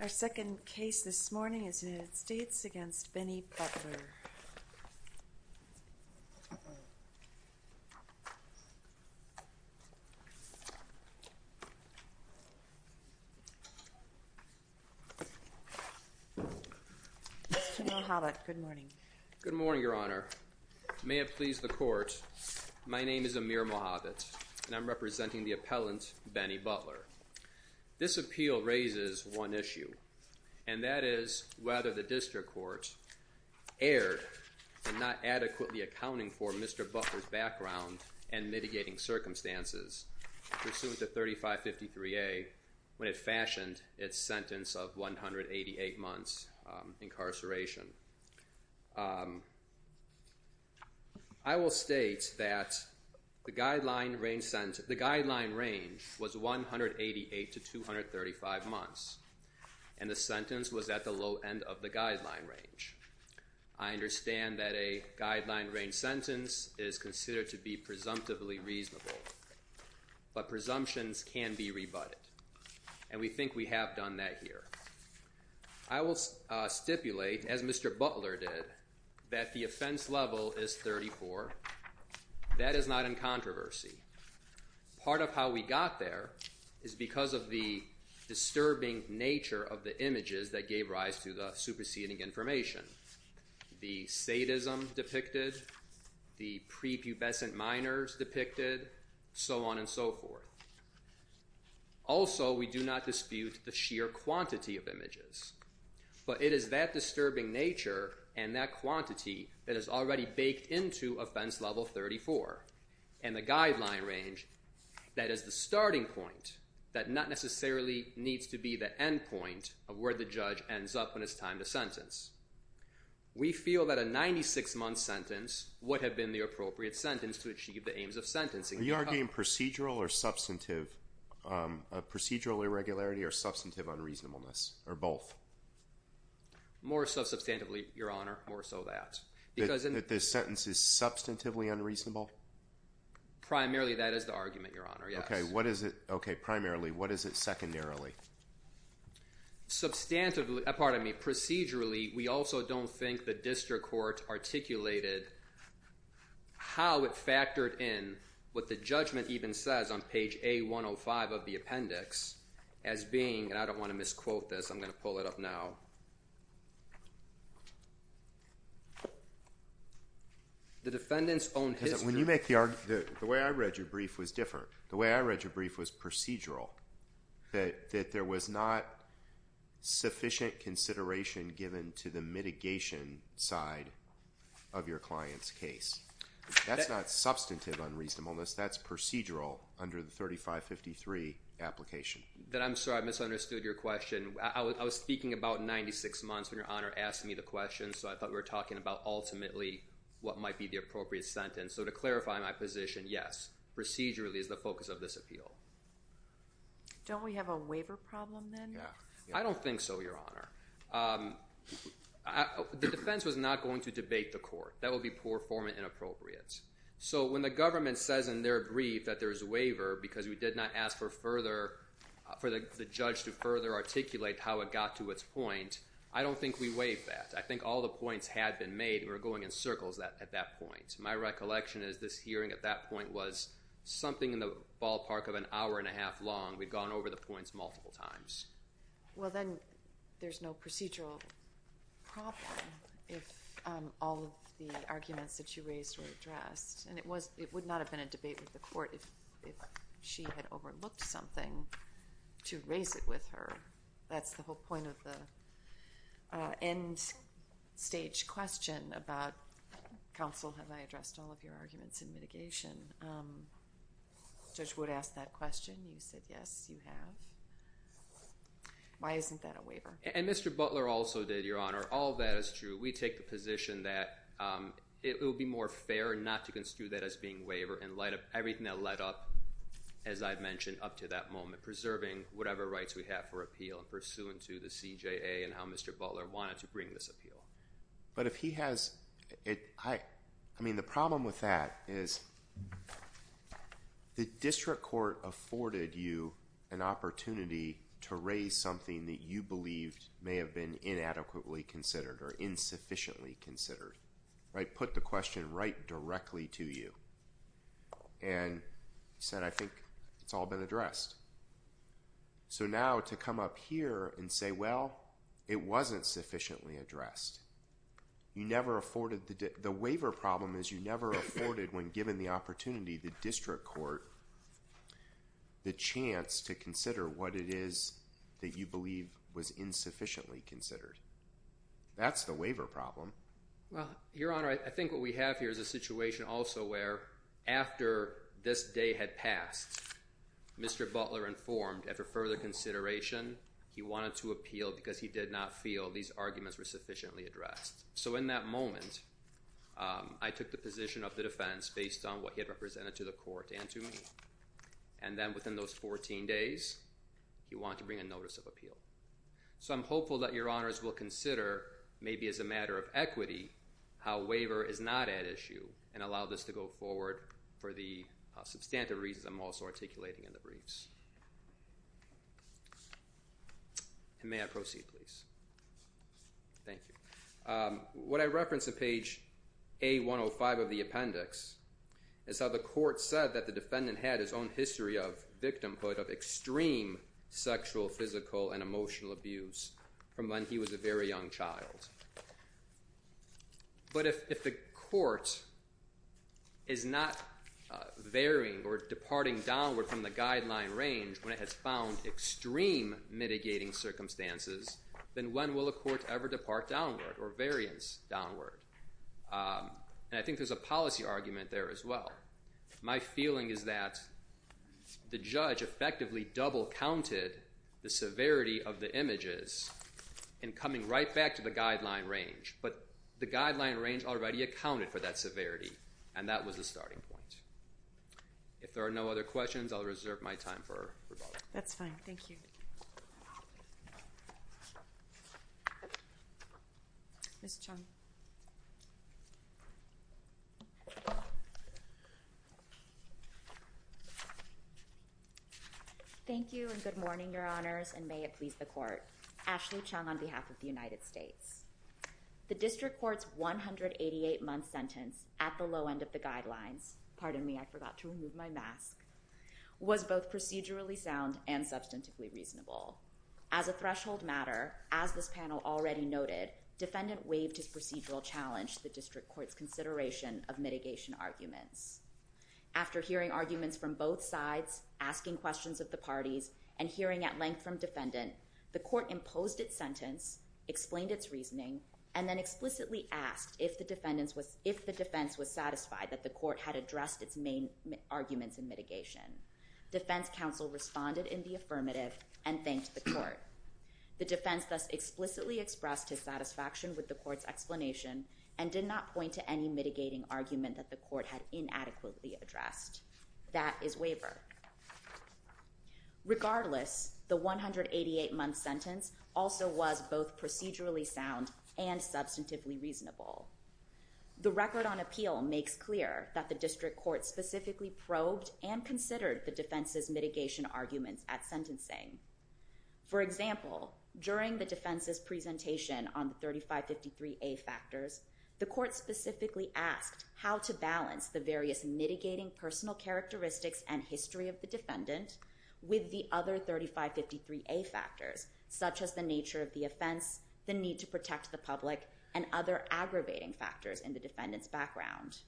Our second case this morning is the United States v. Benny Butler. Mr. Mohabit, good morning. Good morning, Your Honor. May it please the Court, my name is Amir Mohabit, and I'm representing the appellant, Benny Butler. This appeal raises one issue, and that is whether the district court erred in not adequately accounting for Mr. Butler's background and mitigating circumstances pursuant to 3553A when it fashioned its sentence of 188 months incarceration. I will state that the guideline range was 188 to 235 months, and the sentence was at the low end of the guideline range. I understand that a guideline range sentence is considered to be presumptively reasonable, but presumptions can be rebutted, and we think we have done that here. I will stipulate, as Mr. Butler did, that the offense level is 34. That is not in controversy. Part of how we got there is because of the disturbing nature of the images that gave rise to the superseding information. The sadism depicted, the prepubescent minors depicted, so on and so forth. Also, we do not dispute the sheer quantity of images, but it is that disturbing nature and that quantity that is already baked into offense level 34, and the guideline range that is the starting point that not necessarily needs to be the end point of where the judge ends up when it's time to sentence. We feel that a 96-month sentence would have been the appropriate sentence to achieve the aims of sentencing. Are you arguing procedural irregularity or substantive unreasonableness, or both? More so substantively, Your Honor, more so that. That the sentence is substantively unreasonable? Primarily, that is the argument, Your Honor, yes. Okay, primarily. What is it secondarily? Procedurally, we also don't think the district court articulated how it factored in what the judgment even says on page A-105 of the appendix as being, and I don't want to misquote this, I'm going to pull it up now, the defendant's own history. When you make the argument, the way I read your brief was different. The way I read your brief was procedural, that there was not sufficient consideration given to the mitigation side of your client's case. That's not substantive unreasonableness, that's procedural under the 3553 application. I'm sorry, I misunderstood your question. I was speaking about 96 months when Your Honor asked me the question, so I thought we were talking about ultimately what might be the appropriate sentence. So to clarify my position, yes, procedurally is the focus of this appeal. Don't we have a waiver problem then? I don't think so, Your Honor. The defense was not going to debate the court. That would be poor form and inappropriate. So when the government says in their brief that there's a waiver because we did not ask for further, for the judge to further articulate how it got to its point, I don't think we waived that. I think all the points had been made and were going in circles at that point. My recollection is this hearing at that point was something in the ballpark of an hour and a half long. We'd gone over the points multiple times. Well, then there's no procedural problem if all of the arguments that you raised were addressed. And it would not have been a debate with the court if she had overlooked something to raise it with her. That's the whole point of the end stage question about counsel, have I addressed all of your arguments in mitigation? Judge Wood asked that question. You said yes, you have. Why isn't that a waiver? And Mr. Butler also did, Your Honor. All of that is true. We take the position that it would be more fair not to construe that as being a waiver in light of everything that led up, as I've mentioned, up to that moment, preserving whatever rights we have for appeal and pursuant to the CJA and how Mr. Butler wanted to bring this appeal. But if he has, I mean, the problem with that is the district court afforded you an opportunity to raise something that you believed may have been inadequately considered or insufficiently considered. Put the question right directly to you and said, I think it's all been addressed. So now to come up here and say, well, it wasn't sufficiently addressed. The waiver problem is you never afforded, when given the opportunity, the district court the chance to consider what it is that you believe was insufficiently considered. That's the waiver problem. Well, Your Honor, I think what we have here is a situation also where after this day had passed, Mr. Butler informed, after further consideration, he wanted to appeal because he did not feel these arguments were sufficiently addressed. So in that moment, I took the position of the defense based on what he had represented to the court and to me. And then within those 14 days, he wanted to bring a notice of appeal. So I'm hopeful that Your Honors will consider, maybe as a matter of equity, how waiver is not at issue and allow this to go forward for the substantive reasons I'm also articulating in the briefs. And may I proceed, please? Thank you. What I reference in page A-105 of the appendix is how the court said that the defendant had his own history of victimhood, of extreme sexual, physical, and emotional abuse from when he was a very young child. But if the court is not varying or departing downward from the guideline range when it has found extreme mitigating circumstances, then when will a court ever depart downward or variance downward? And I think there's a policy argument there as well. My feeling is that the judge effectively double counted the severity of the images in coming right back to the guideline range. But the guideline range already accounted for that severity, and that was the starting point. If there are no other questions, I'll reserve my time for rebuttal. That's fine. Thank you. Ms. Chung. Thank you, and good morning, Your Honors, and may it please the court. Ashley Chung on behalf of the United States. The district court's 188-month sentence at the low end of the guidelines – pardon me, I forgot to remove my mask – was both procedurally sound and substantively reasonable. As a threshold matter, as this panel already noted, defendant waived his procedural challenge to the district court's consideration of mitigation arguments. After hearing arguments from both sides, asking questions of the parties, and hearing at length from defendant, the court imposed its sentence, explained its reasoning, and then explicitly asked if the defense was satisfied that the court had addressed its main arguments in mitigation. Defense counsel responded in the affirmative and thanked the court. The defense thus explicitly expressed its satisfaction with the court's explanation and did not point to any mitigating argument that the court had inadequately addressed. That is waiver. Regardless, the 188-month sentence also was both procedurally sound and substantively reasonable. The record on appeal makes clear that the district court specifically probed and considered the defense's mitigation arguments at sentencing. For example, during the defense's presentation on the 3553A factors, the court specifically asked how to balance the various mitigating personal characteristics and history of the defendant with the other 3553A factors, such as the nature of the offense, the need to protect the public, and other aggravating factors in the defendant's background.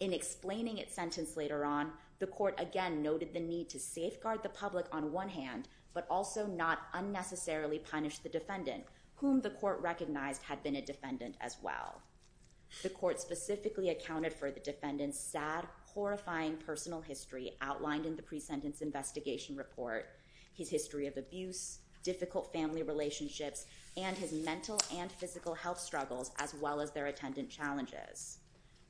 In explaining its sentence later on, the court again noted the need to safeguard the public on one hand, but also not unnecessarily punish the defendant, whom the court recognized had been a defendant as well. The court specifically accounted for the defendant's sad, horrifying personal history outlined in the pre-sentence investigation report, his history of abuse, difficult family relationships, and his mental and physical health struggles, as well as their attendant challenges.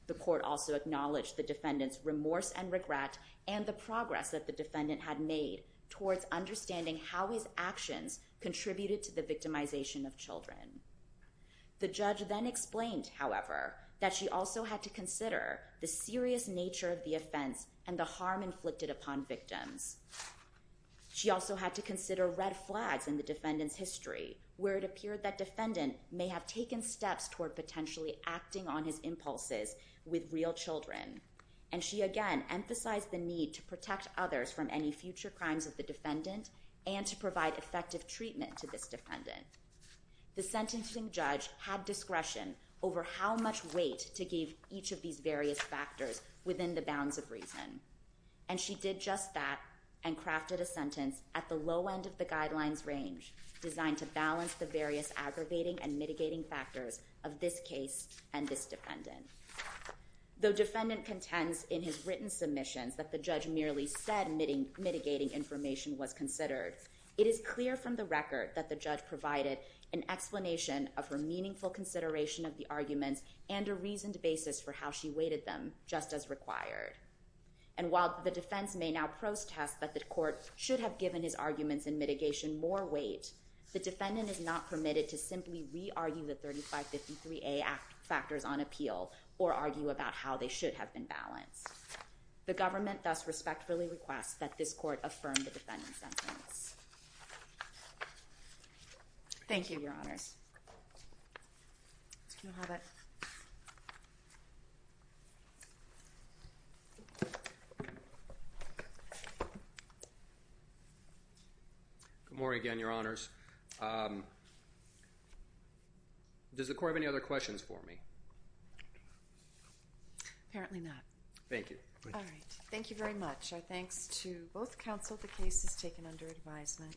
The court also acknowledged the defendant's remorse and regret and the progress that the defendant had made towards understanding how his actions contributed to the victimization of children. The judge then explained, however, that she also had to consider the serious nature of the offense and the harm inflicted upon victims. She also had to consider red flags in the defendant's history, where it appeared that defendant may have taken steps toward potentially acting on his impulses with real children. And she again emphasized the need to protect others from any future crimes of the defendant and to provide effective treatment to this defendant. The sentencing judge had discretion over how much weight to give each of these various factors within the bounds of reason. And she did just that and crafted a sentence at the low end of the guidelines range designed to balance the various aggravating and mitigating factors of this case and this defendant. Though defendant contends in his written submissions that the judge merely said mitigating information was considered, it is clear from the record that the judge provided an explanation of her meaningful consideration of the arguments and a reasoned basis for how she weighted them just as required. And while the defense may now protest that the court should have given his arguments and mitigation more weight, the defendant is not permitted to simply re-argue the 3553A factors on appeal or argue about how they should have been balanced. The government thus respectfully requests that this court affirm the defendant's sentence. Thank you, Your Honors. Good morning again, Your Honors. Does the court have any other questions for me? Apparently not. Thank you. All right. Thank you very much. Our thanks to both counsel. The case is taken under advisement.